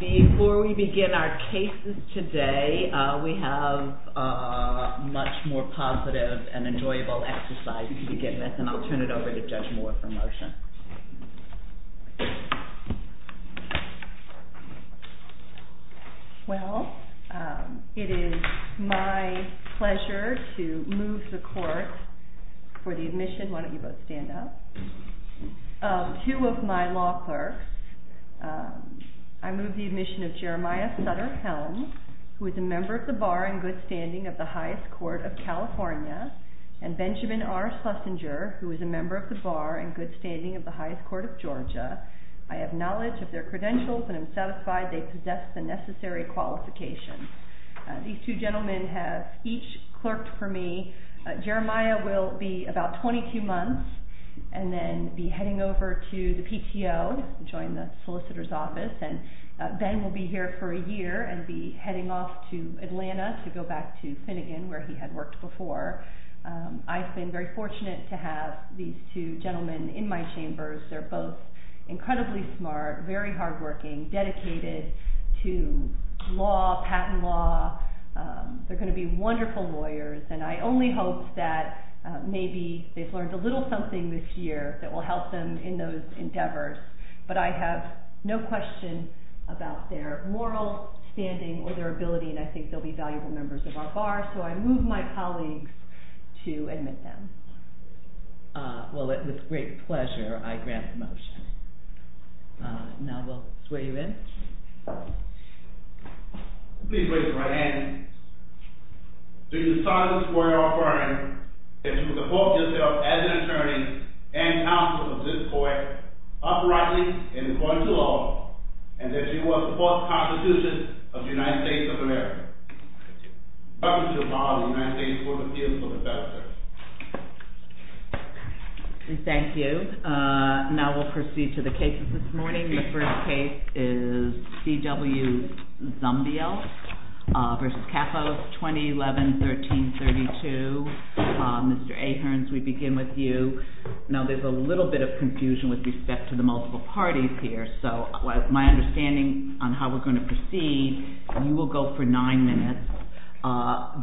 Before we begin our cases today, we have a much more positive and enjoyable exercise to begin with, and I'll turn it over to Judge Moore for a motion. JUDGE MOORE Well, it is my pleasure to move the court for the admission of two of my law clerks. I move the admission of Jeremiah Sutter-Helms, who is a member of the Bar and Good Standing of the High Court of California, and Benjamin R. Schlesinger, who is a member of the Bar and Good Standing of the High Court of Georgia. I have knowledge of their credentials and am satisfied they possess the necessary qualifications. These two gentlemen have each clerked for me. Jeremiah will be about 22 months and then be heading over to the PTO to join the solicitor's office, and Ben will be here for a year and be heading off to Atlanta to go back to Finnegan, where he had worked before. I've been very fortunate to have these two gentlemen in my chambers. They're both incredibly smart, very hardworking, dedicated to law, patent law. They're going to be wonderful lawyers, and I only hope that maybe they've learned a little something this year that will help them in those endeavors. But I have no question about their moral standing or their ability, and I think they'll be valuable members of our Bar, so I move my colleagues to admit them. Well, it's with great pleasure I grant the motion. Now we'll sway you in. Please raise your right hand. Do you solemnly swear or affirm that you will support yourself as an attorney and counsel of this court, uprightly and according to law, and that you will support the Constitution of the United States of America? I do. I also solemnly swear or affirm that I will support the Constitution of the United States of America.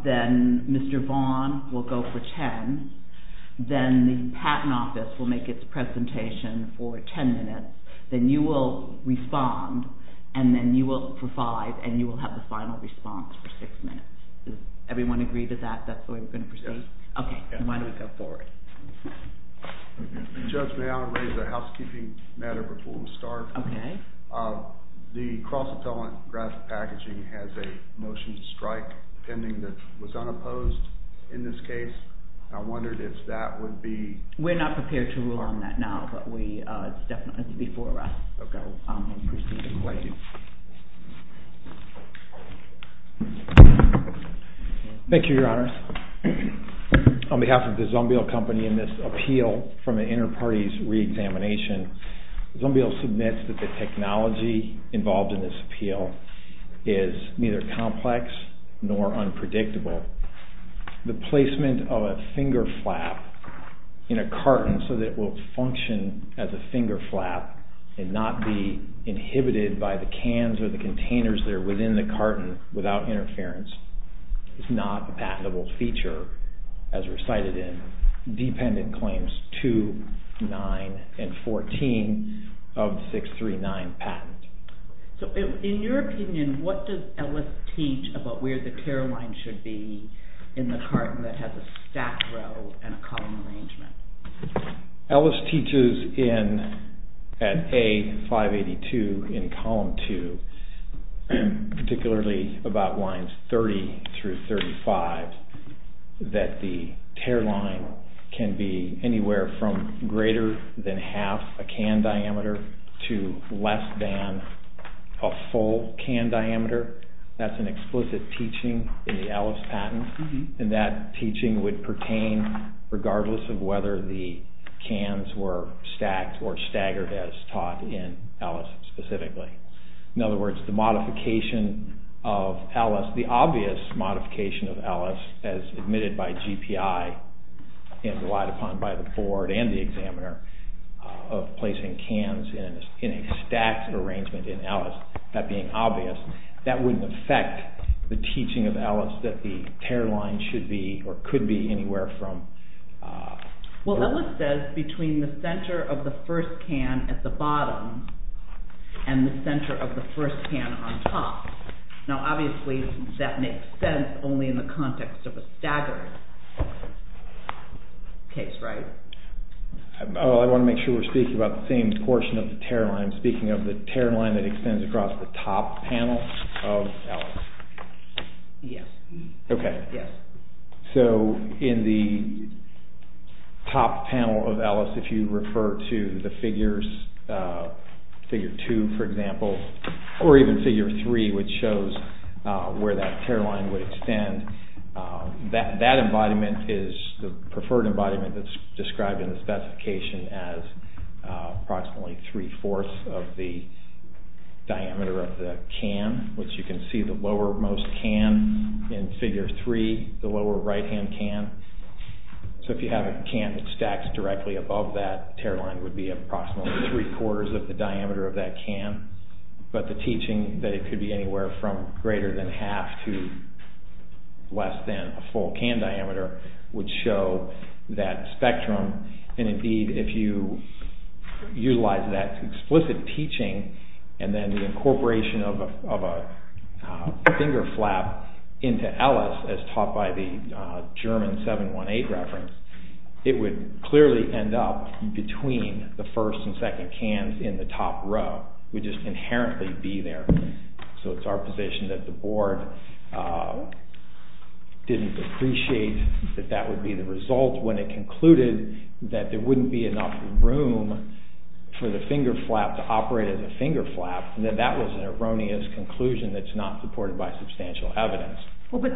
Then Mr. Vaughn will go for ten. Then the Patent Office will make its presentation for ten minutes. Then you will respond, and then you will provide, and you will have the final response for six minutes. Does everyone agree to that? That's the way we're going to proceed? Yes. Okay, then why don't we go forward. Judge, may I raise a housekeeping matter before we start? Okay. The Cross-Appellant Graphic Packaging has a motion to strike pending that was unopposed in this case. I wondered if that would be... We're not prepared to rule on that now, but it's definitely before us. Okay. Thank you. Thank you, Your Honors. On behalf of the Zumbiel Company in this appeal from an inter-parties re-examination, Zumbiel submits that the technology involved in this appeal is neither complex nor unpredictable. The placement of a finger flap in a carton so that it will function as a finger flap and not be inhibited by the cans or the containers that are within the carton without interference is not a patentable feature, as recited in Dependent Claims 2, 9, and 14 of 639 Patent. In your opinion, what does Ellis teach about where the tear line should be in the carton that has a stack row and a column arrangement? Ellis teaches at A582 in Column 2, particularly about lines 30 through 35, that the tear line can be anywhere from greater than half a can diameter to less than a full can diameter. That's an explicit teaching in the Ellis patent, and that teaching would pertain regardless of whether the cans were stacked or staggered as taught in Ellis specifically. In other words, the modification of Ellis, the obvious modification of Ellis as admitted by GPI and relied upon by the board and the examiner of placing cans in a stacked arrangement in Ellis, that being obvious, that wouldn't affect the teaching of Ellis that the tear line should be or could be anywhere from… …the center of the first can on top. Now, obviously, that makes sense only in the context of a staggered case, right? I want to make sure we're speaking about the same portion of the tear line. I'm speaking of the tear line that extends across the top panel of Ellis. Yes. Yes. …in Figure 3, the lower right-hand can. So if you have a can that stacks directly above that, the tear line would be approximately three-quarters of the diameter of that can, but the teaching that it could be anywhere from greater than half to less than a full can diameter would show that spectrum. And indeed, if you utilize that explicit teaching and then the incorporation of a finger flap into Ellis as taught by the German 718 reference, it would clearly end up between the first and second cans in the top row. It would just inherently be there. So it's our position that the board didn't appreciate that that would be the result when it concluded that there wouldn't be enough room for the finger flap to operate as a finger flap, and that that was an erroneous conclusion that's not supported by substantial evidence. Well, but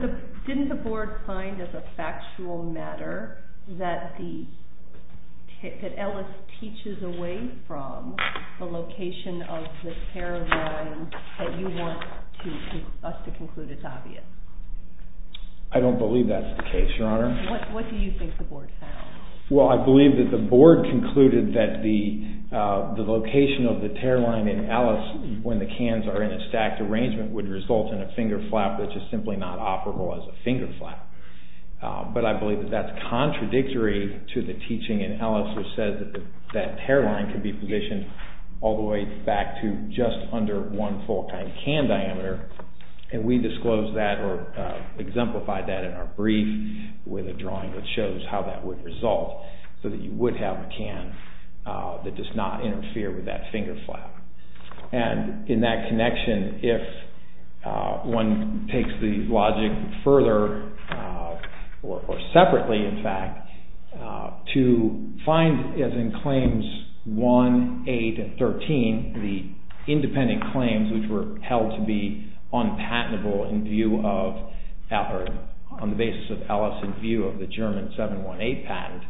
didn't the board find as a factual matter that Ellis teaches away from the location of the tear line that you want us to conclude is obvious? I don't believe that's the case, Your Honor. What do you think the board found? Well, I believe that the board concluded that the location of the tear line in Ellis when the cans are in a stacked arrangement would result in a finger flap which is simply not operable as a finger flap. But I believe that that's contradictory to the teaching in Ellis which says that that tear line can be positioned all the way back to just under one full can diameter, and we disclose that or exemplify that in our brief with a drawing that shows how that would result so that you would have a can that does not interfere with that finger flap. And in that connection, if one takes the logic further, or separately in fact, to find as in Claims 1, 8, and 13, the independent claims which were held to be unpatentable in view of, on the basis of Ellis in view of the German 718 patent,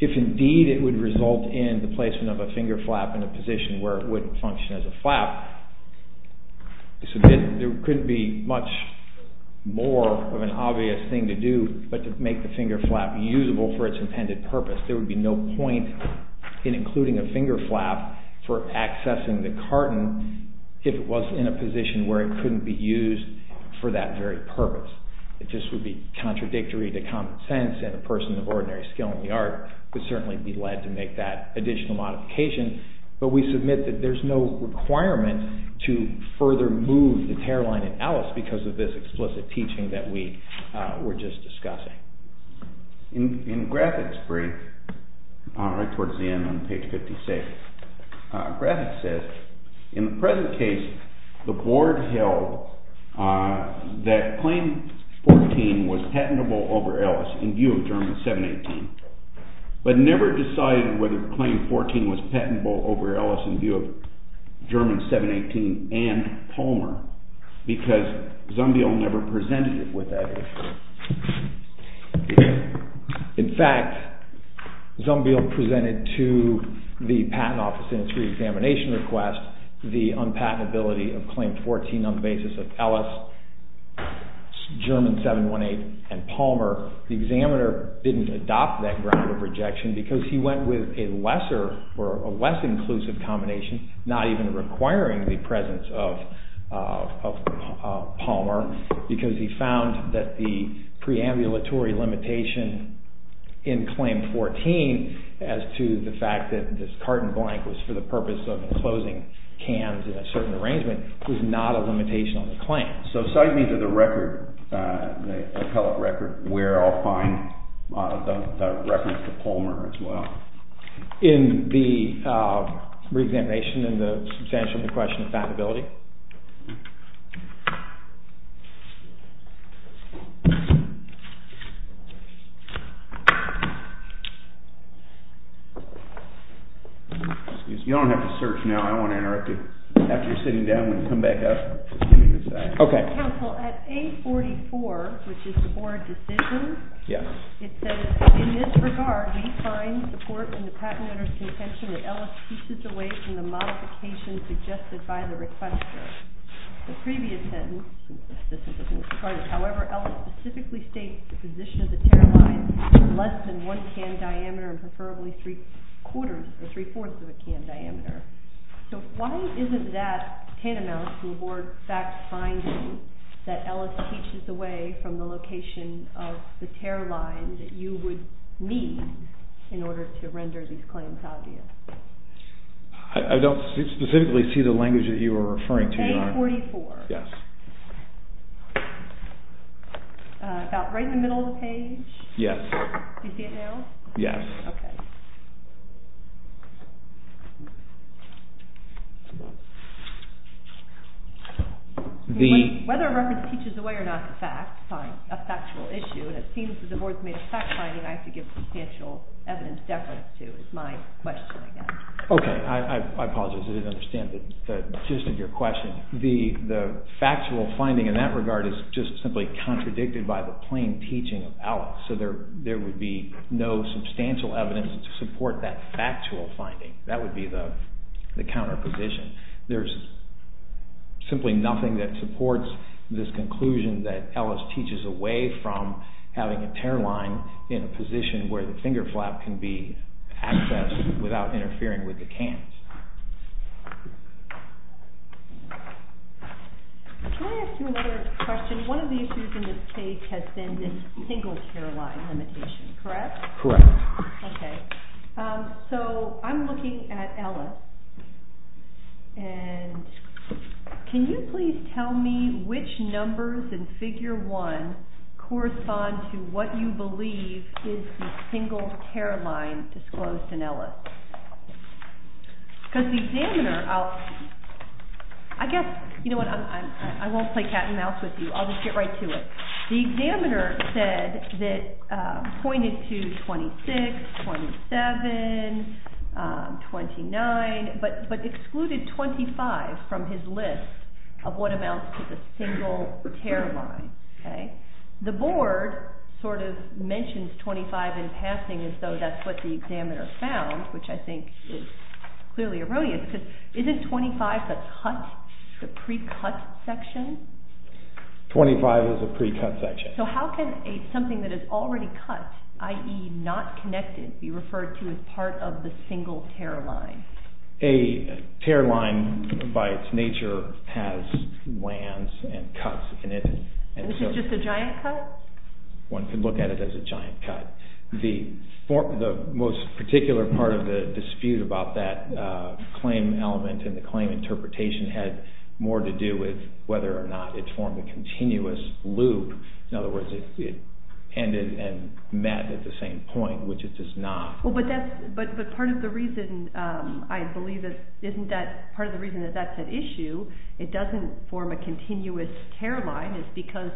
if indeed it would result in the placement of a finger flap in a position where it wouldn't function as a flap, there couldn't be much more of an obvious thing to do but to make the finger flap usable for its intended purpose. There would be no point in including a finger flap for accessing the carton if it was in a position where it couldn't be used for that very purpose. It just would be contradictory to common sense and a person of ordinary skill in the art would certainly be led to make that additional modification. But we submit that there's no requirement to further move the tear line in Ellis because of this explicit teaching that we were just discussing. In Grafick's brief, right towards the end on page 56, Grafick says, in the present case, the board held that Claim 14 was patentable over Ellis in view of German 718, but never decided whether Claim 14 was patentable over Ellis in view of German 718 and Palmer because Zumbiel never presented it with that issue. In fact, Zumbiel presented to the patent office in its reexamination request the unpatentability of Claim 14 on the basis of Ellis, German 718, and Palmer. The examiner didn't adopt that ground of rejection because he went with a less inclusive combination, not even requiring the presence of Palmer because he found that the preambulatory limitation in Claim 14 as to the fact that this carton blank was for the purpose of enclosing cans in a certain arrangement was not a limitation on the claim. So cite me to the record, the appellate record, where I'll find the reference to Palmer as well. In the reexamination and the substantial question of patentability? Excuse me. You don't have to search now. I don't want to interrupt you. After you're sitting down, we can come back up. OK. Counsel, at A44, which is the board decision, it says, in this regard, we find support in the patent owner's contention that Ellis pieces away from the modification suggested by the requestor. The previous sentence, however, Ellis specifically states the position of the tariff line is less than 1 can diameter and preferably 3 quarters or 3 fourths of a can diameter. So why isn't that tantamount to a board fact finding that Ellis pieces away from the location of the tariff line that you would need in order to render these claims obvious? I don't specifically see the language that you are referring to. A44? Yes. About right in the middle of the page? Yes. Do you see it now? Yes. OK. Whether a record teaches away or not a fact, a factual issue, and it seems that the board's made a fact finding, I have to give substantial evidence deference to. It's my question, I guess. OK. I apologize. I didn't understand the gist of your question. The factual finding in that regard is just simply contradicted by the plain teaching of Ellis. So there would be no substantial evidence to support that factual finding. That would be the counter position. There's simply nothing that supports this conclusion that Ellis teaches away from having a tariff line in a position where the finger flap can be accessed without interfering with the cans. Can I ask you another question? One of the issues in this case has been this single tariff line limitation, correct? Correct. OK. So I'm looking at Ellis. And can you please tell me which numbers in figure one correspond to what you believe is the single tariff line disclosed in Ellis? Because the examiner, I'll, I guess, you know what, I won't play cat and mouse with you. I'll just get right to it. The examiner said that pointed to 26, 27, 29, but excluded 25 from his list of what amounts to the single tariff line. OK. The board sort of mentions 25 in passing as though that's what the examiner found, which I think is clearly erroneous. Because isn't 25 the cut, the pre-cut section? 25 is a pre-cut section. So how can something that is already cut, i.e. not connected, be referred to as part of the single tariff line? A tariff line, by its nature, has lands and cuts in it. Is it just a giant cut? One can look at it as a giant cut. The most particular part of the dispute about that claim element and the claim interpretation had more to do with whether or not it formed a continuous loop. In other words, it ended and met at the same point, which it does not. But part of the reason I believe that that's an issue, it doesn't form a continuous tariff line, is because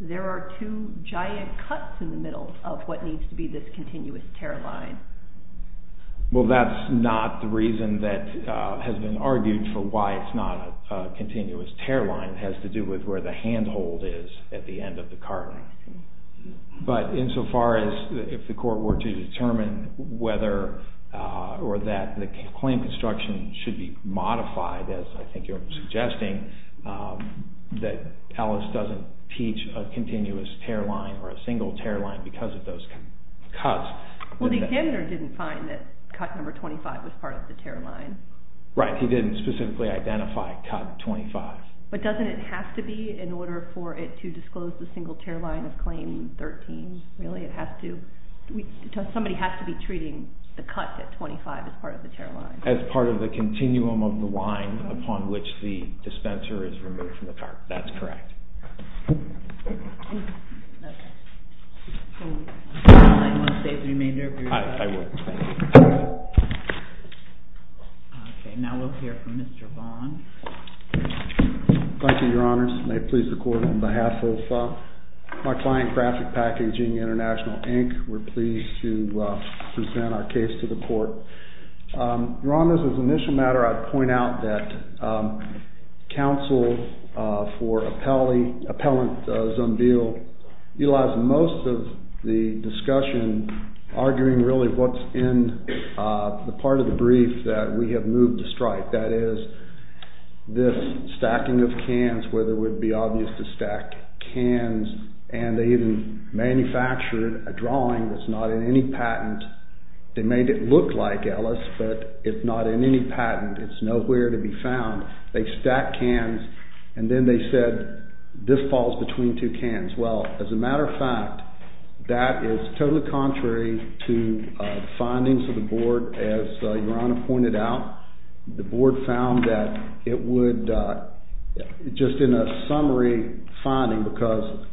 there are two giant cuts in the middle of what needs to be this continuous tariff line. Well, that's not the reason that has been argued for why it's not a continuous tariff line. It has to do with where the handhold is at the end of the carving. But insofar as if the court were to determine whether or that the claim construction should be modified, as I think you're suggesting, that Alice doesn't teach a continuous tariff line or a single tariff line because of those cuts. Well, the examiner didn't find that cut number 25 was part of the tariff line. Right, he didn't specifically identify cut 25. But doesn't it have to be in order for it to disclose the single tariff line of claim 13, really? Somebody has to be treating the cut at 25 as part of the tariff line. As part of the continuum of the line upon which the dispenser is removed from the cart. That's correct. I don't want to save the remainder of your time. I will. Okay, now we'll hear from Mr. Vaughn. Thank you, Your Honors. May it please the court, on behalf of my client, Graphic Packaging International, Inc., we're pleased to present our case to the court. Your Honors, as an initial matter, I'd point out that counsel for appellant Zumbiel utilized most of the discussion arguing really what's in the part of the brief that we have moved to strike. That is, this stacking of cans, whether it would be obvious to stack cans, and they even manufactured a drawing that's not in any patent. They made it look like Ellis, but it's not in any patent. It's nowhere to be found. They stacked cans, and then they said, this falls between two cans. Well, as a matter of fact, that is totally contrary to findings of the board, as Your Honor pointed out. The board found that it would, just in a summary finding, because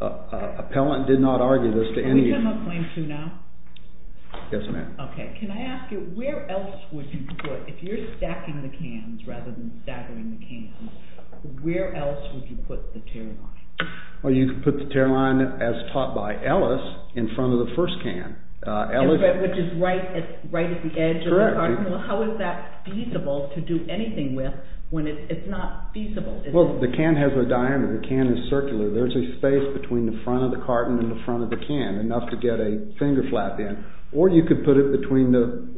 appellant did not argue this to any… Can we come up claim two now? Yes, ma'am. Okay. Can I ask you, where else would you put, if you're stacking the cans rather than staggering the cans, where else would you put the tear line? Well, you could put the tear line, as taught by Ellis, in front of the first can. Which is right at the edge of the carton? Well, how is that feasible to do anything with when it's not feasible? Well, the can has a diameter. The can is circular. There's a space between the front of the carton and the front of the can, enough to get a finger flap in. Or you could put it between the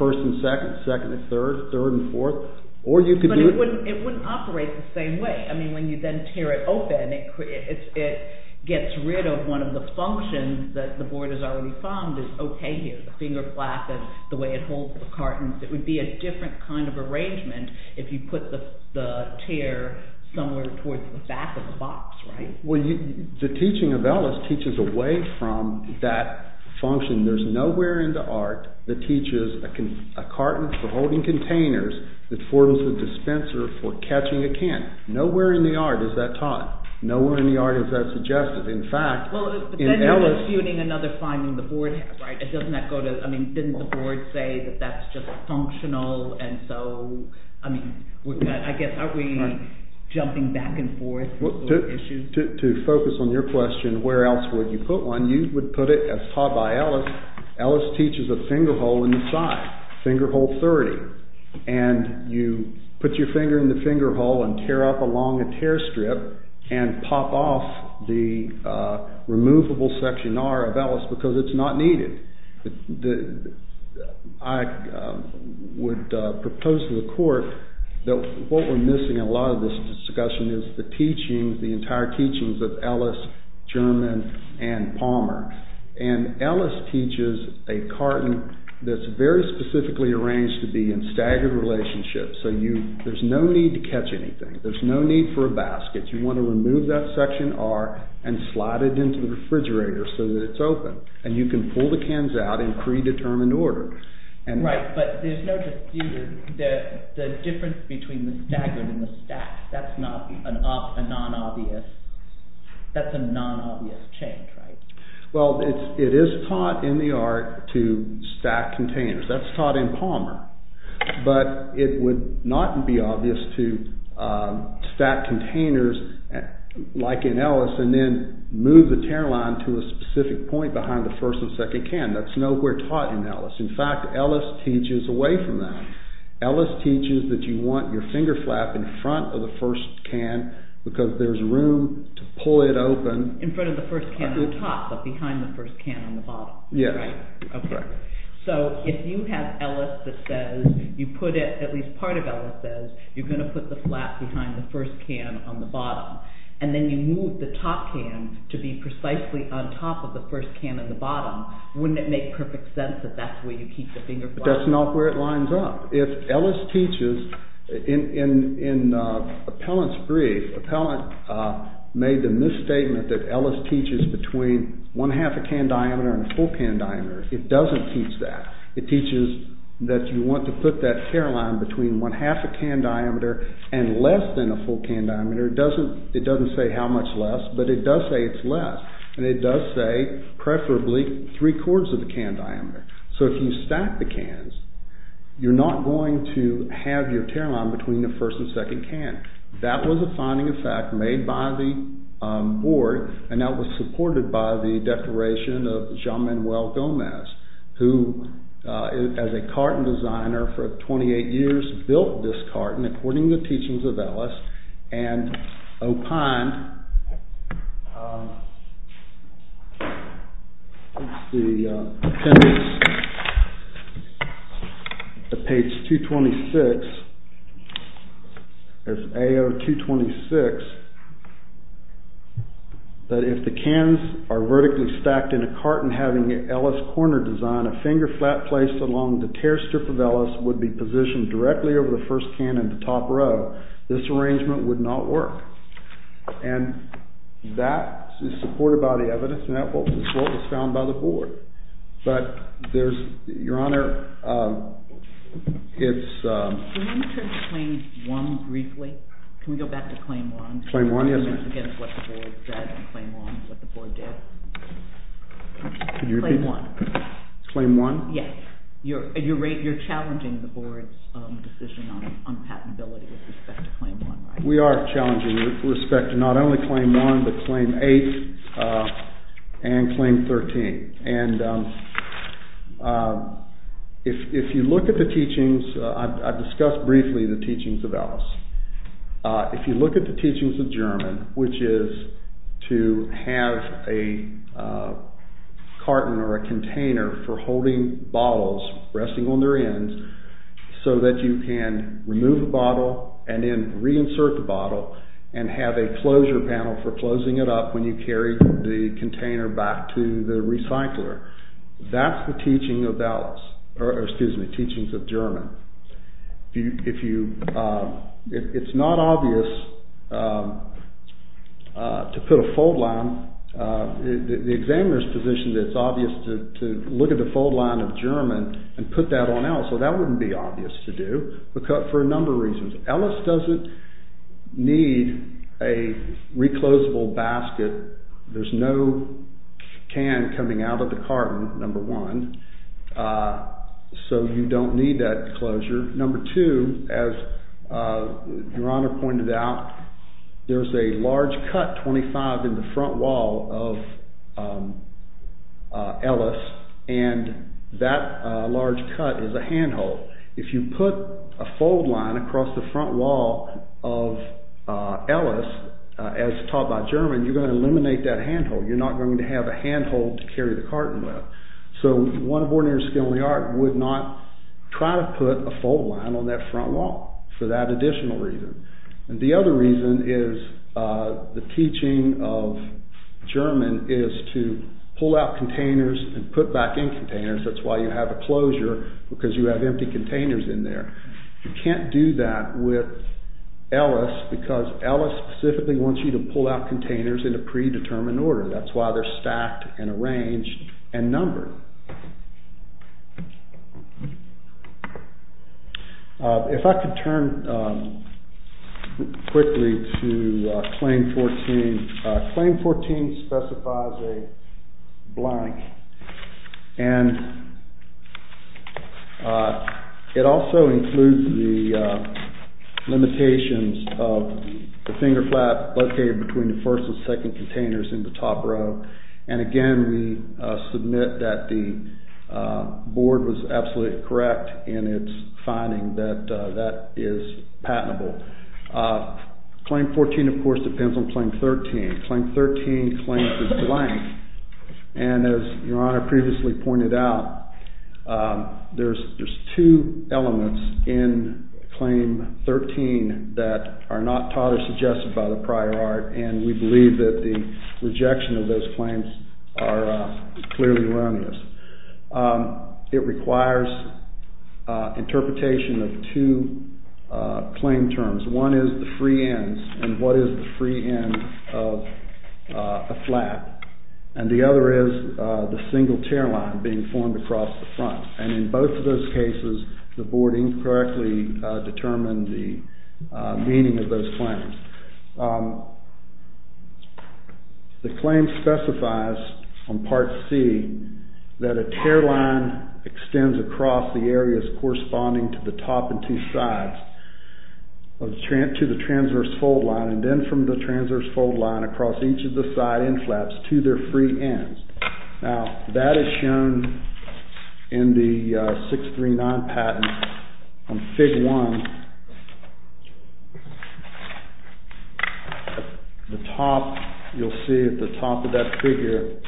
first and second, second and third, third and fourth. But it wouldn't operate the same way. I mean, when you then tear it open, it gets rid of one of the functions that the board has already found is okay here. The finger flap and the way it holds the carton. It would be a different kind of arrangement if you put the tear somewhere towards the back of the box, right? Well, the teaching of Ellis teaches away from that function. There's nowhere in the art that teaches a carton for holding containers that forms a dispenser for catching a can. Nowhere in the art is that taught. Nowhere in the art is that suggested. In fact, in Ellis… And then you're disputing another finding the board has, right? Doesn't that go to, I mean, didn't the board say that that's just functional and so, I mean, I guess, are we jumping back and forth with those issues? To focus on your question, where else would you put one, you would put it as taught by Ellis. Ellis teaches a finger hole in the side, finger hole 30. And you put your finger in the finger hole and tear up along a tear strip and pop off the removable section R of Ellis because it's not needed. I would propose to the court that what we're missing in a lot of this discussion is the teachings, the entire teachings of Ellis, German, and Palmer. And Ellis teaches a carton that's very specifically arranged to be in staggered relationships so there's no need to catch anything. There's no need for a basket. You want to remove that section R and slide it into the refrigerator so that it's open. And you can pull the cans out in predetermined order. Right, but there's no dispute that the difference between the staggered and the stacked, that's not a non-obvious, that's a non-obvious change, right? Well, it is taught in the art to stack containers. That's taught in Palmer, but it would not be obvious to stack containers like in Ellis and then move the tear line to a specific point behind the first and second can. That's nowhere taught in Ellis. In fact, Ellis teaches away from that. Ellis teaches that you want your finger flap in front of the first can because there's room to pull it open. In front of the first can on top, but behind the first can on the bottom. Yes. Okay. So if you have Ellis that says, you put it, at least part of Ellis says, you're going to put the flap behind the first can on the bottom, and then you move the top can to be precisely on top of the first can on the bottom, wouldn't it make perfect sense that that's where you keep the finger flap? That's not where it lines up. In Appellant's brief, Appellant made the misstatement that Ellis teaches between one-half a can diameter and a full can diameter. It doesn't teach that. It teaches that you want to put that tear line between one-half a can diameter and less than a full can diameter. It doesn't say how much less, but it does say it's less, and it does say preferably three-quarters of a can diameter. So if you stack the cans, you're not going to have your tear line between the first and second can. That was a finding of fact made by the board, and that was supported by the declaration of Jean-Manuel Gomez, who, as a carton designer for 28 years, built this carton according to the teachings of Ellis, and opined, let's see, appendix, page 226, there's AO 226, that if the cans are vertically stacked in a carton having an Ellis corner design, a finger flap placed along the tear strip of Ellis would be positioned directly over the first can in the top row. This arrangement would not work. And that is supported by the evidence, and that's what was found by the board. But there's, Your Honor, it's- Can we turn to claim one briefly? Can we go back to claim one? Claim one, yes. Again, what the board said and claim one, what the board did. Can you repeat? Claim one. Claim one? Yes. You're challenging the board's decision on patentability with respect to claim one, right? We are challenging with respect to not only claim one, but claim eight and claim 13. And if you look at the teachings, I've discussed briefly the teachings of Ellis. If you look at the teachings of German, which is to have a carton or a container for holding bottles, resting on their ends, so that you can remove a bottle and then reinsert the bottle and have a closure panel for closing it up when you carry the container back to the recycler. That's the teaching of Ellis, or excuse me, teachings of German. It's not obvious to put a fold line, the examiner's position that it's obvious to look at the fold line of German and put that on Ellis. So that wouldn't be obvious to do for a number of reasons. Ellis doesn't need a reclosable basket. There's no can coming out of the carton, number one, so you don't need that closure. Number two, as Your Honor pointed out, there's a large cut 25 in the front wall of Ellis, and that large cut is a handhold. If you put a fold line across the front wall of Ellis, as taught by German, you're going to eliminate that handhold. You're not going to have a handhold to carry the carton with. So one of ordinary skill in the art would not try to put a fold line on that front wall for that additional reason. The other reason is the teaching of German is to pull out containers and put back in containers. That's why you have a closure, because you have empty containers in there. You can't do that with Ellis, because Ellis specifically wants you to pull out containers in a predetermined order. That's why they're stacked and arranged and numbered. If I could turn quickly to Claim 14. Claim 14 specifies a blank, and it also includes the limitations of the finger flap located between the first and second containers in the top row. Again, we submit that the board was absolutely correct in its finding that that is patentable. Claim 14, of course, depends on Claim 13. Claim 13 claims the blank, and as Your Honor previously pointed out, there's two elements in Claim 13 that are not taught or suggested by the prior art. And we believe that the rejection of those claims are clearly wrong in this. It requires interpretation of two claim terms. One is the free ends, and what is the free end of a flap. And the other is the single tear line being formed across the front. And in both of those cases, the board incorrectly determined the meaning of those claims. The claim specifies on Part C that a tear line extends across the areas corresponding to the top and two sides to the transverse fold line, and then from the transverse fold line across each of the side end flaps to their free ends. Now, that is shown in the 639 patent on Fig. 1. The top, you'll see at the top of that figure,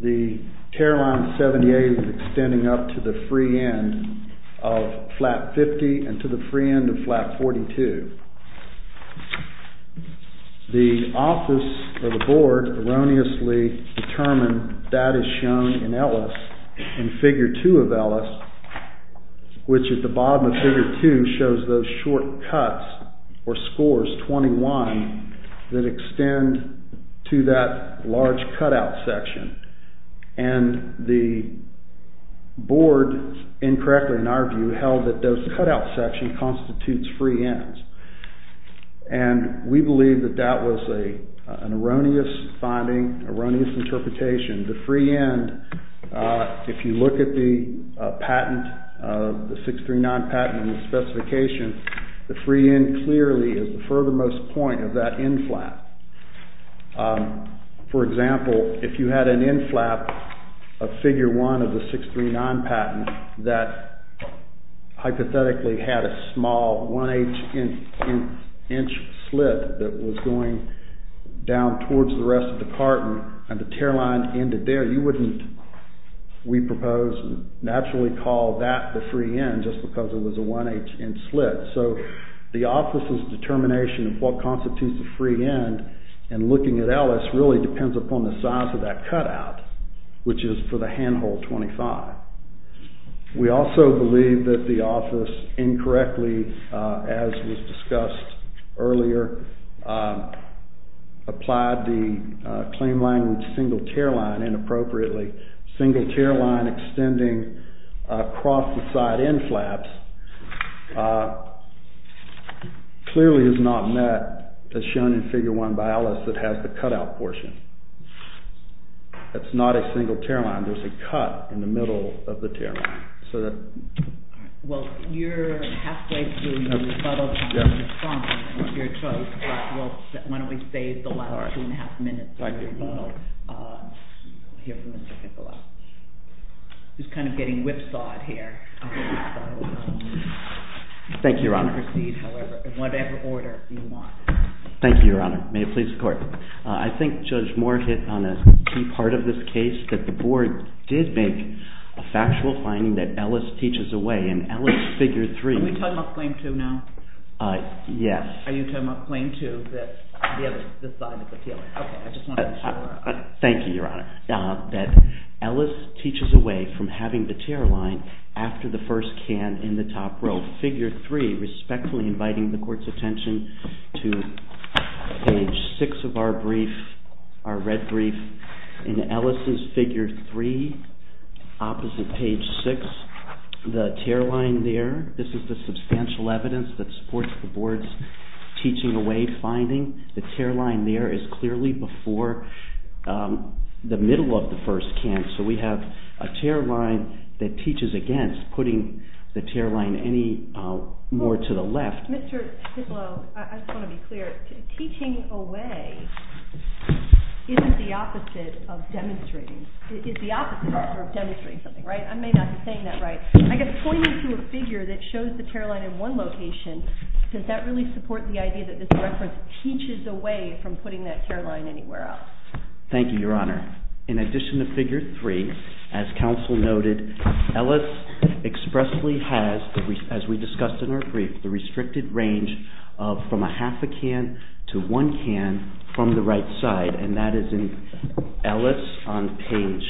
the tear line 78 is extending up to the free end of flap 50 and to the free end of flap 42. The office or the board erroneously determined that is shown in Ellis in Fig. 2 of Ellis, which at the bottom of Fig. 2 shows those short cuts or scores, 21, that extend to that large cutout section. And the board incorrectly, in our view, held that those cutout section constitutes free ends. And we believe that that was an erroneous finding, an erroneous interpretation. The free end, if you look at the patent, the 639 patent and the specification, the free end clearly is the furthermost point of that end flap. For example, if you had an end flap of Fig. 1 of the 639 patent that hypothetically had a small 1-inch slit that was going down towards the rest of the carton and the tear line ended there, you wouldn't, we propose, naturally call that the free end just because it was a 1-inch slit. So the office's determination of what constitutes the free end and looking at Ellis really depends upon the size of that cutout, which is for the handhold 25. We also believe that the office incorrectly, as was discussed earlier, applied the claim line with single tear line inappropriately. Single tear line extending across the side end flaps clearly is not met as shown in Fig. 1 by Ellis that has the cutout portion. That's not a single tear line. There's a cut in the middle of the tear line. Well, you're halfway through your rebuttal time. You're fine. You're chosen. Why don't we save the last two and a half minutes for your rebuttal. Thank you, Your Honor. We'll hear from Mr. Kimball. He's kind of getting whipsawed here. Thank you, Your Honor. Proceed however, in whatever order you want. Thank you, Your Honor. May it please the Court. I think Judge Moore hit on a key part of this case, that the Board did make a factual finding that Ellis teaches away in Ellis Fig. 3. Are we talking about Claim 2 now? Yes. Are you talking about Claim 2, this side of the tail? Okay, I just wanted to make sure. Thank you, Your Honor. That Ellis teaches away from having the tear line after the first can in the top row. In Ellis Fig. 3, respectfully inviting the Court's attention to page 6 of our brief, our red brief. In Ellis' Fig. 3, opposite page 6, the tear line there, this is the substantial evidence that supports the Board's teaching away finding. The tear line there is clearly before the middle of the first can. So we have a tear line that teaches against putting the tear line any more to the left. Mr. Titlow, I just want to be clear. Teaching away isn't the opposite of demonstrating. It is the opposite of demonstrating something, right? I may not be saying that right. I guess pointing to a figure that shows the tear line in one location, does that really support the idea that this reference teaches away from putting that tear line anywhere else? Thank you, Your Honor. In addition to Fig. 3, as counsel noted, Ellis expressly has, as we discussed in our brief, the restricted range from a half a can to one can from the right side. And that is in Ellis on page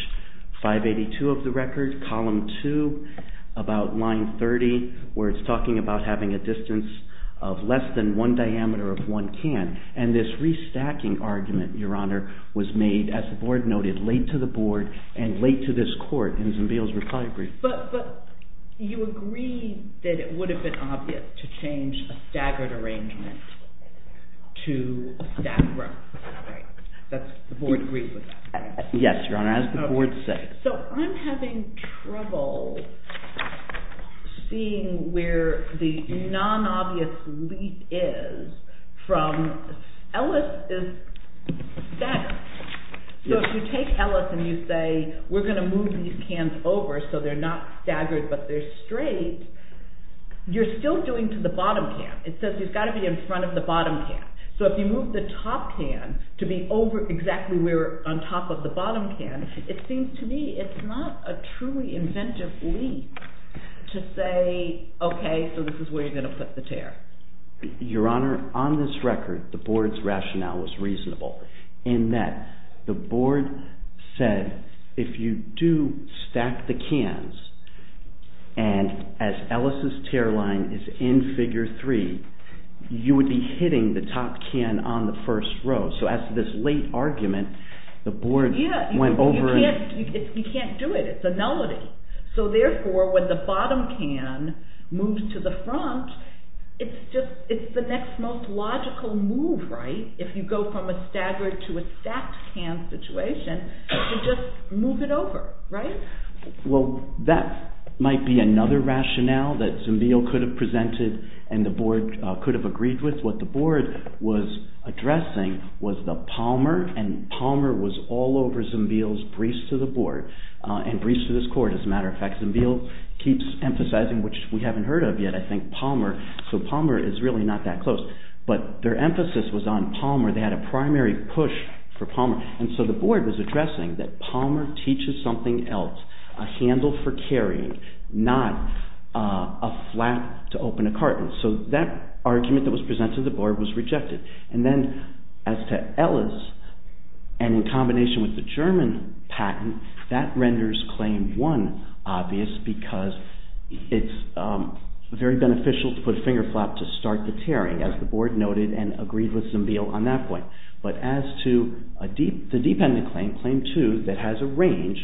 582 of the record, column 2, about line 30, where it's talking about having a distance of less than one diameter of one can. And this restacking argument, Your Honor, was made, as the Board noted, late to the Board and late to this Court in Zimbiel's reply brief. But you agree that it would have been obvious to change a staggered arrangement to a stacked run, right? The Board agrees with that, right? Yes, Your Honor, as the Board said. So I'm having trouble seeing where the non-obvious leap is from Ellis is staggered. So if you take Ellis and you say, we're going to move these cans over so they're not staggered but they're straight, you're still doing to the bottom can. It says he's got to be in front of the bottom can. So if you move the top can to be over exactly where on top of the bottom can, it seems to me it's not a truly inventive leap to say, okay, so this is where you're going to put the tear. Your Honor, on this record, the Board's rationale was reasonable in that the Board said if you do stack the cans and as Ellis's tear line is in figure three, you would be hitting the top can on the first row. So as to this late argument, the Board went over and… It's the next most logical move, right? If you go from a staggered to a stacked can situation, you just move it over, right? Well, that might be another rationale that Zambiel could have presented and the Board could have agreed with. What the Board was addressing was the Palmer and Palmer was all over Zambiel's briefs to the Board and briefs to this Court, as a matter of fact. Zambiel keeps emphasizing, which we haven't heard of yet, I think Palmer, so Palmer is really not that close, but their emphasis was on Palmer. They had a primary push for Palmer and so the Board was addressing that Palmer teaches something else, a handle for carrying, not a flap to open a carton. So that argument that was presented to the Board was rejected. And then as to Ellis and in combination with the German patent, that renders claim one obvious because it's very beneficial to put a finger flap to start the tearing, as the Board noted and agreed with Zambiel on that point. But as to the dependent claim, claim two, that has a range,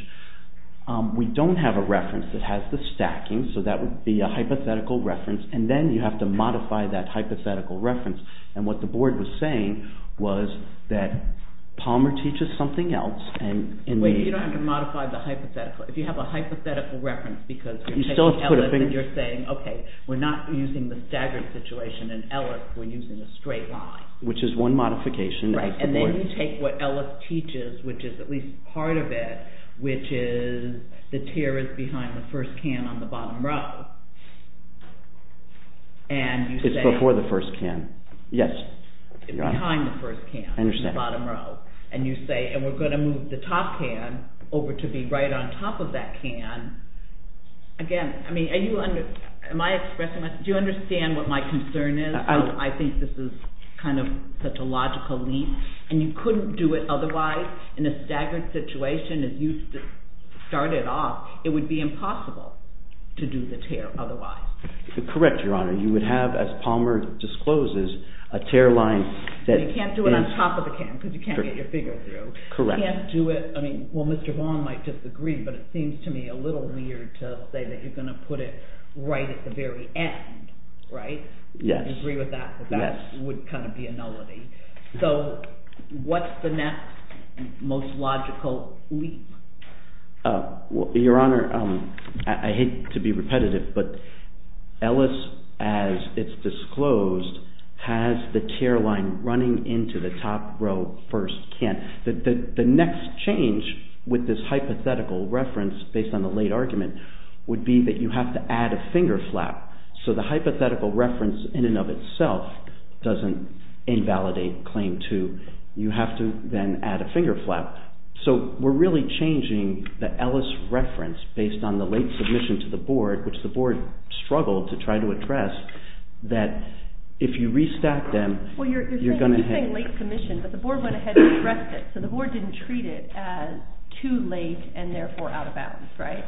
we don't have a reference that has the stacking, so that would be a hypothetical reference and then you have to modify that hypothetical reference. And what the Board was saying was that Palmer teaches something else. Wait, you don't have to modify the hypothetical. If you have a hypothetical reference because you're taking Ellis and you're saying, okay, we're not using the staggered situation in Ellis, we're using a straight line. Which is one modification of the Board. And then you take what Ellis teaches, which is at least part of it, which is the tear is behind the first can on the bottom row. It's before the first can. Yes. Behind the first can on the bottom row. And you say, and we're going to move the top can over to be right on top of that can. Again, do you understand what my concern is? I think this is kind of such a logical leap. And you couldn't do it otherwise in a staggered situation as you started off. It would be impossible to do the tear otherwise. Correct, Your Honor. You would have, as Palmer discloses, a tear line. You can't do it on top of the can because you can't get your finger through. Correct. You can't do it, well Mr. Vaughn might disagree, but it seems to me a little weird to say that you're going to put it right at the very end. Right? Yes. I agree with that, but that would kind of be a nullity. So what's the next most logical leap? Your Honor, I hate to be repetitive, but Ellis, as it's disclosed, has the tear line running into the top row first can. The next change with this hypothetical reference based on the late argument would be that you have to add a finger flap. So the hypothetical reference in and of itself doesn't invalidate Claim 2. You have to then add a finger flap. So we're really changing the Ellis reference based on the late submission to the Board, which the Board struggled to try to address, that if you restack them, you're going to have… So the Board didn't treat it as too late and therefore out of bounds, right?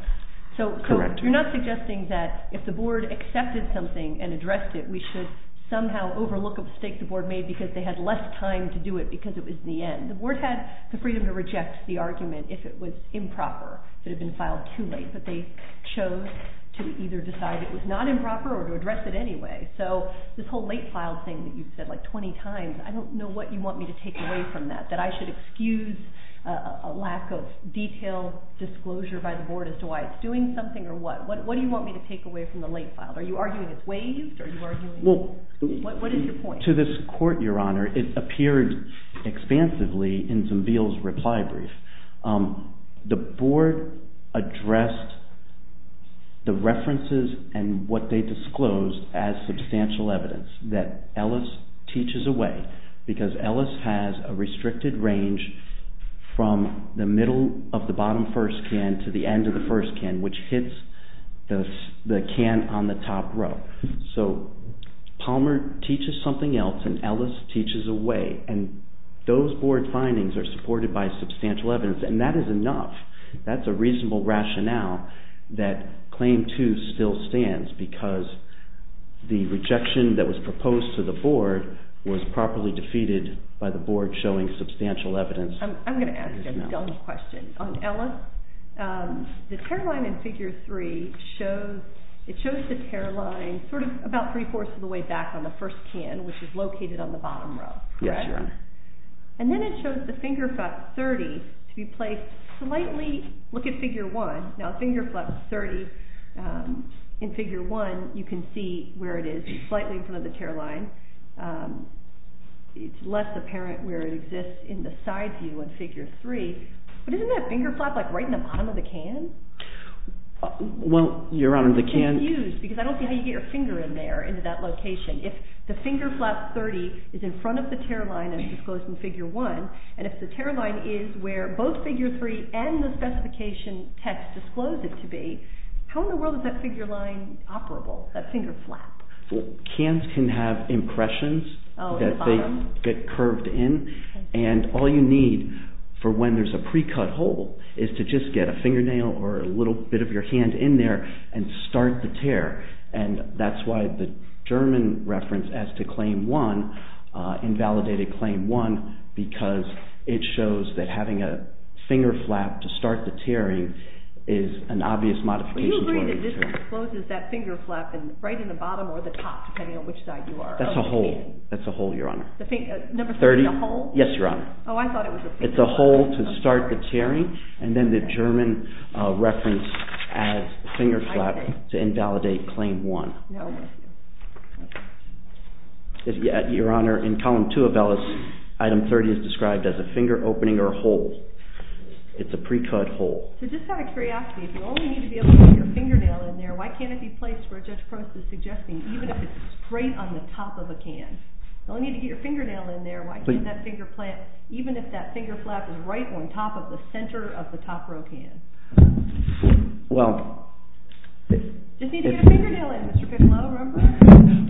Correct. So you're not suggesting that if the Board accepted something and addressed it, we should somehow overlook a mistake the Board made because they had less time to do it because it was the end. The Board had the freedom to reject the argument if it was improper, if it had been filed too late, but they chose to either decide it was not improper or to address it anyway. So this whole late file thing that you said like 20 times, I don't know what you want me to take away from that, that I should excuse a lack of detailed disclosure by the Board as to why it's doing something or what. What do you want me to take away from the late file? Are you arguing it's waived or are you arguing… Well… What is your point? To this Court, Your Honor, it appeared expansively in Zambiel's reply brief. The Board addressed the references and what they disclosed as substantial evidence that Ellis teaches away because Ellis has a restricted range from the middle of the bottom first can to the end of the first can, which hits the can on the top row. So Palmer teaches something else and Ellis teaches away and those Board findings are supported by substantial evidence and that is enough. That's a reasonable rationale that Claim 2 still stands because the rejection that was proposed to the Board was properly defeated by the Board showing substantial evidence. I'm going to ask you a dumb question. On Ellis, the tear line in Figure 3 shows the tear line sort of about three-fourths of the way back on the first can, which is located on the bottom row. Yes, Your Honor. And then it shows the finger flap 30 to be placed slightly…look at Figure 1. Now finger flap 30 in Figure 1, you can see where it is slightly in front of the tear line. It's less apparent where it exists in the side view in Figure 3. But isn't that finger flap like right in the bottom of the can? Well, Your Honor, the can… I'm confused because I don't see how you get your finger in there into that location. If the finger flap 30 is in front of the tear line as disclosed in Figure 1 and if the tear line is where both Figure 3 and the specification text disclose it to be, how in the world is that figure line operable, that finger flap? Cans can have impressions that they get curved in. And all you need for when there's a pre-cut hole is to just get a fingernail or a little bit of your hand in there and start the tear. And that's why the German reference as to Claim 1, invalidated Claim 1, because it shows that having a finger flap to start the tearing is an obvious modification. Do you agree that this exposes that finger flap right in the bottom or the top, depending on which side you are? That's a hole. That's a hole, Your Honor. Number 30, a hole? Yes, Your Honor. Oh, I thought it was a finger flap. It's a hole to start the tearing and then the German reference as finger flap to invalidate Claim 1. Your Honor, in Column 2 of Ellis, Item 30 is described as a finger opening or a hole. It's a pre-cut hole. So just out of curiosity, if you only need to be able to get your fingernail in there, why can't it be placed where Judge Prost is suggesting, even if it's straight on the top of a can? If you only need to get your fingernail in there, why can't that finger flap, even if that finger flap is right on top of the center of the top row can? Just need to get a fingernail in, Mr. Piccolo, remember?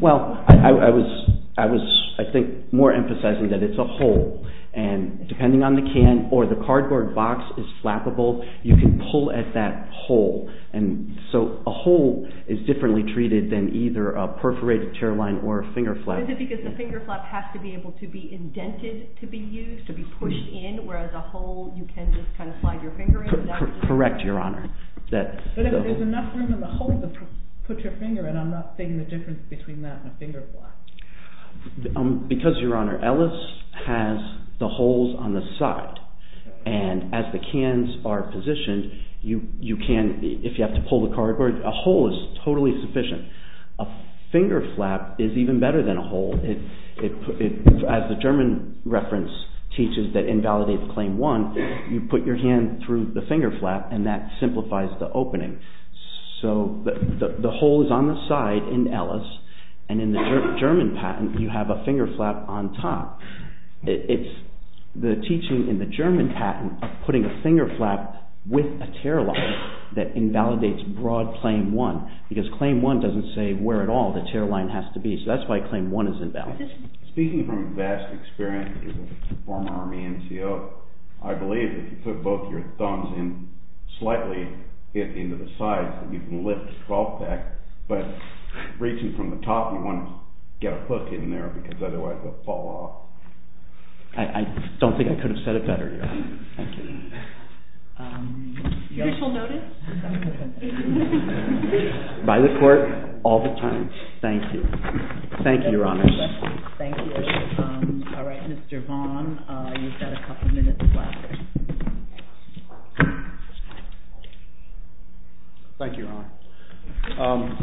Well, I was, I think, more emphasizing that it's a hole. And depending on the can or the cardboard box is flappable, you can pull at that hole. And so a hole is differently treated than either a perforated tear line or a finger flap. But is it because the finger flap has to be able to be indented to be used, to be pushed in, whereas a hole you can just kind of slide your finger in? Correct, Your Honor. But if there's enough room in the hole to put your finger in, I'm not seeing the difference between that and a finger flap. Because, Your Honor, Ellis has the holes on the side. And as the cans are positioned, you can, if you have to pull the cardboard, a hole is totally sufficient. A finger flap is even better than a hole. As the German reference teaches that invalidates Claim 1, you put your hand through the finger flap and that simplifies the opening. So the hole is on the side in Ellis. And in the German patent, you have a finger flap on top. It's the teaching in the German patent of putting a finger flap with a tear line that invalidates broad Claim 1. Because Claim 1 doesn't say where at all the tear line has to be. So that's why Claim 1 is invalid. Speaking from vast experience as a former Army NCO, I believe if you put both your thumbs in slightly into the sides, you can lift the 12-pack. But reaching from the top, you want to get a hook in there because otherwise it will fall off. I don't think I could have said it better, Your Honor. Thank you. Judicial notice? By the Court, all the time. Thank you. Thank you, Your Honor. Thank you. All right, Mr. Vaughn, you've got a couple minutes left. Thank you, Your Honor.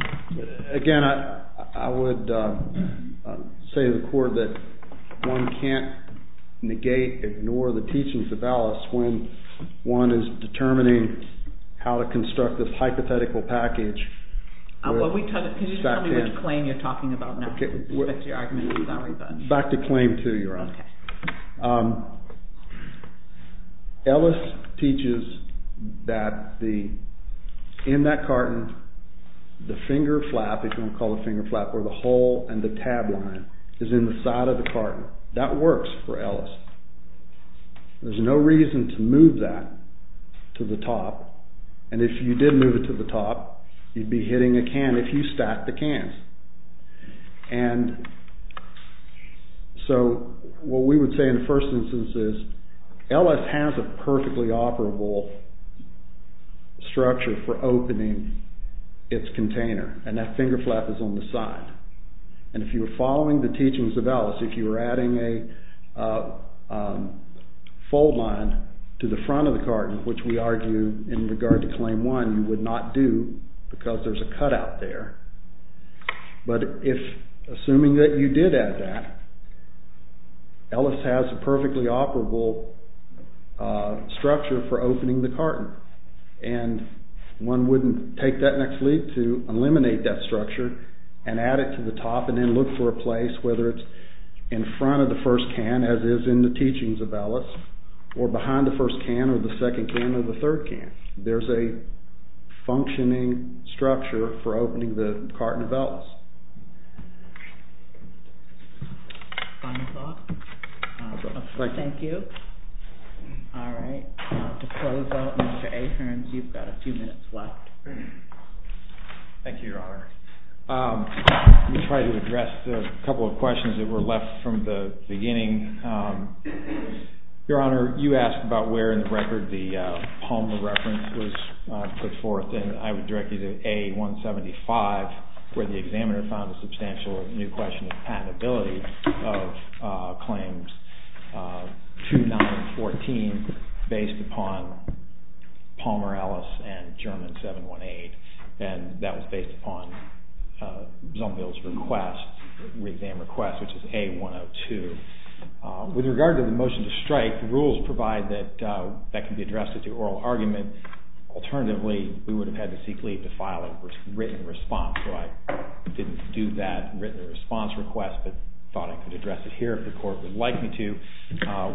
Again, I would say to the Court that one can't negate, ignore the teachings of Ellis when one is determining how to construct this hypothetical package. Can you tell me which claim you're talking about now? Back to Claim 2, Your Honor. Ellis teaches that in that carton, the finger flap, if you want to call it a finger flap, or the hole and the tab line is in the side of the carton. That works for Ellis. There's no reason to move that to the top. And if you did move it to the top, you'd be hitting a can if you stacked the cans. And so what we would say in the first instance is Ellis has a perfectly operable structure for opening its container, and that finger flap is on the side. And if you were following the teachings of Ellis, if you were adding a fold line to the front of the carton, which we argue in regard to Claim 1 you would not do because there's a cutout there. But assuming that you did add that, Ellis has a perfectly operable structure for opening the carton. And one wouldn't take that next leap to eliminate that structure and add it to the top and then look for a place, whether it's in front of the first can, as is in the teachings of Ellis, or behind the first can, or the second can, or the third can. There's a functioning structure for opening the carton of Ellis. Final thoughts? Thank you. Thank you. All right. To close out, Mr. Ahearns, you've got a few minutes left. Thank you, Your Honor. Your Honor, you asked about where in the record the Palmer reference was put forth, and I would direct you to A175, where the examiner found a substantial new question of patentability of Claims 2914 based upon Palmer, Ellis, and German 718. And that was based upon Zumbil's request, re-exam request, which is A102. With regard to the motion to strike, the rules provide that that can be addressed at the oral argument. Alternatively, we would have had to seek leave to file a written response, so I didn't do that written response request but thought I could address it here if the Court would like me to.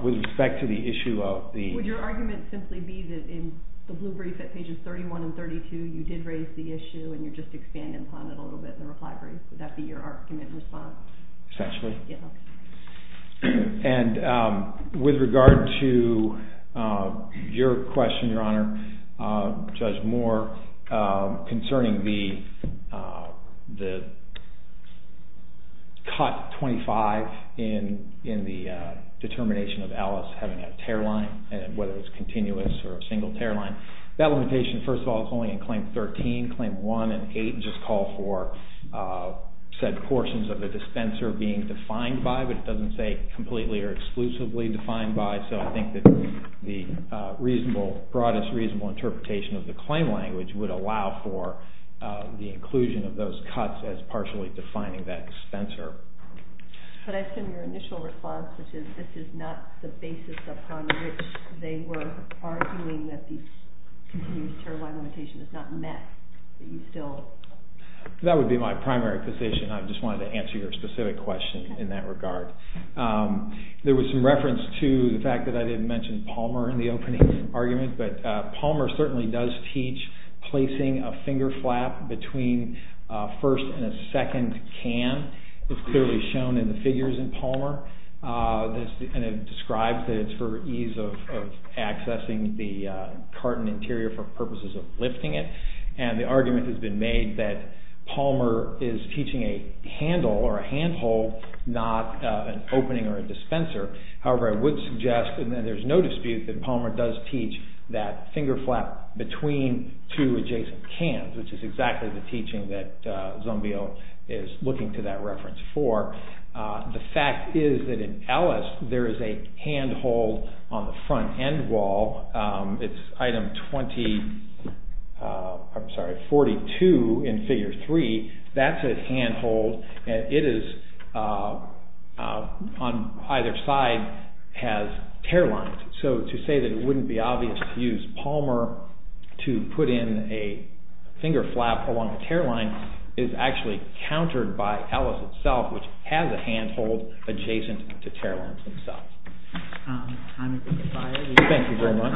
With respect to the issue of the- Would your argument simply be that in the blue brief at pages 31 and 32 you did raise the issue and you're just expanding upon it a little bit in the reply brief? Would that be your argument in response? Essentially. And with regard to your question, Your Honor, Judge Moore, concerning the cut 25 in the determination of Ellis having a tear line, whether it was continuous or a single tear line, that limitation, first of all, is only in Claim 13. Claim 1 and 8 just call for said portions of the dispenser being defined by, but it doesn't say completely or exclusively defined by, so I think that the broadest reasonable interpretation of the claim language would allow for the inclusion of those cuts as partially defining that dispenser. But I assume your initial response, which is this is not the basis upon which they were arguing that the continuous tear line limitation is not met, that you still- That would be my primary position. I just wanted to answer your specific question in that regard. There was some reference to the fact that I didn't mention Palmer in the opening argument, but Palmer certainly does teach placing a finger flap between first and a second can. It's clearly shown in the figures in Palmer. It describes that it's for ease of accessing the carton interior for purposes of lifting it, and the argument has been made that Palmer is teaching a handle or a handhold, not an opening or a dispenser. However, I would suggest, and there's no dispute, that Palmer does teach that finger flap between two adjacent cans, which is exactly the teaching that Zambio is looking to that reference for. The fact is that in Ellis, there is a handhold on the front end wall. It's item 42 in figure 3. That's a handhold, and it is on either side has tear lines. So to say that it wouldn't be obvious to use Palmer to put in a finger flap along a tear line is actually countered by Ellis itself, which has a handhold adjacent to tear lines themselves. Thank you very much.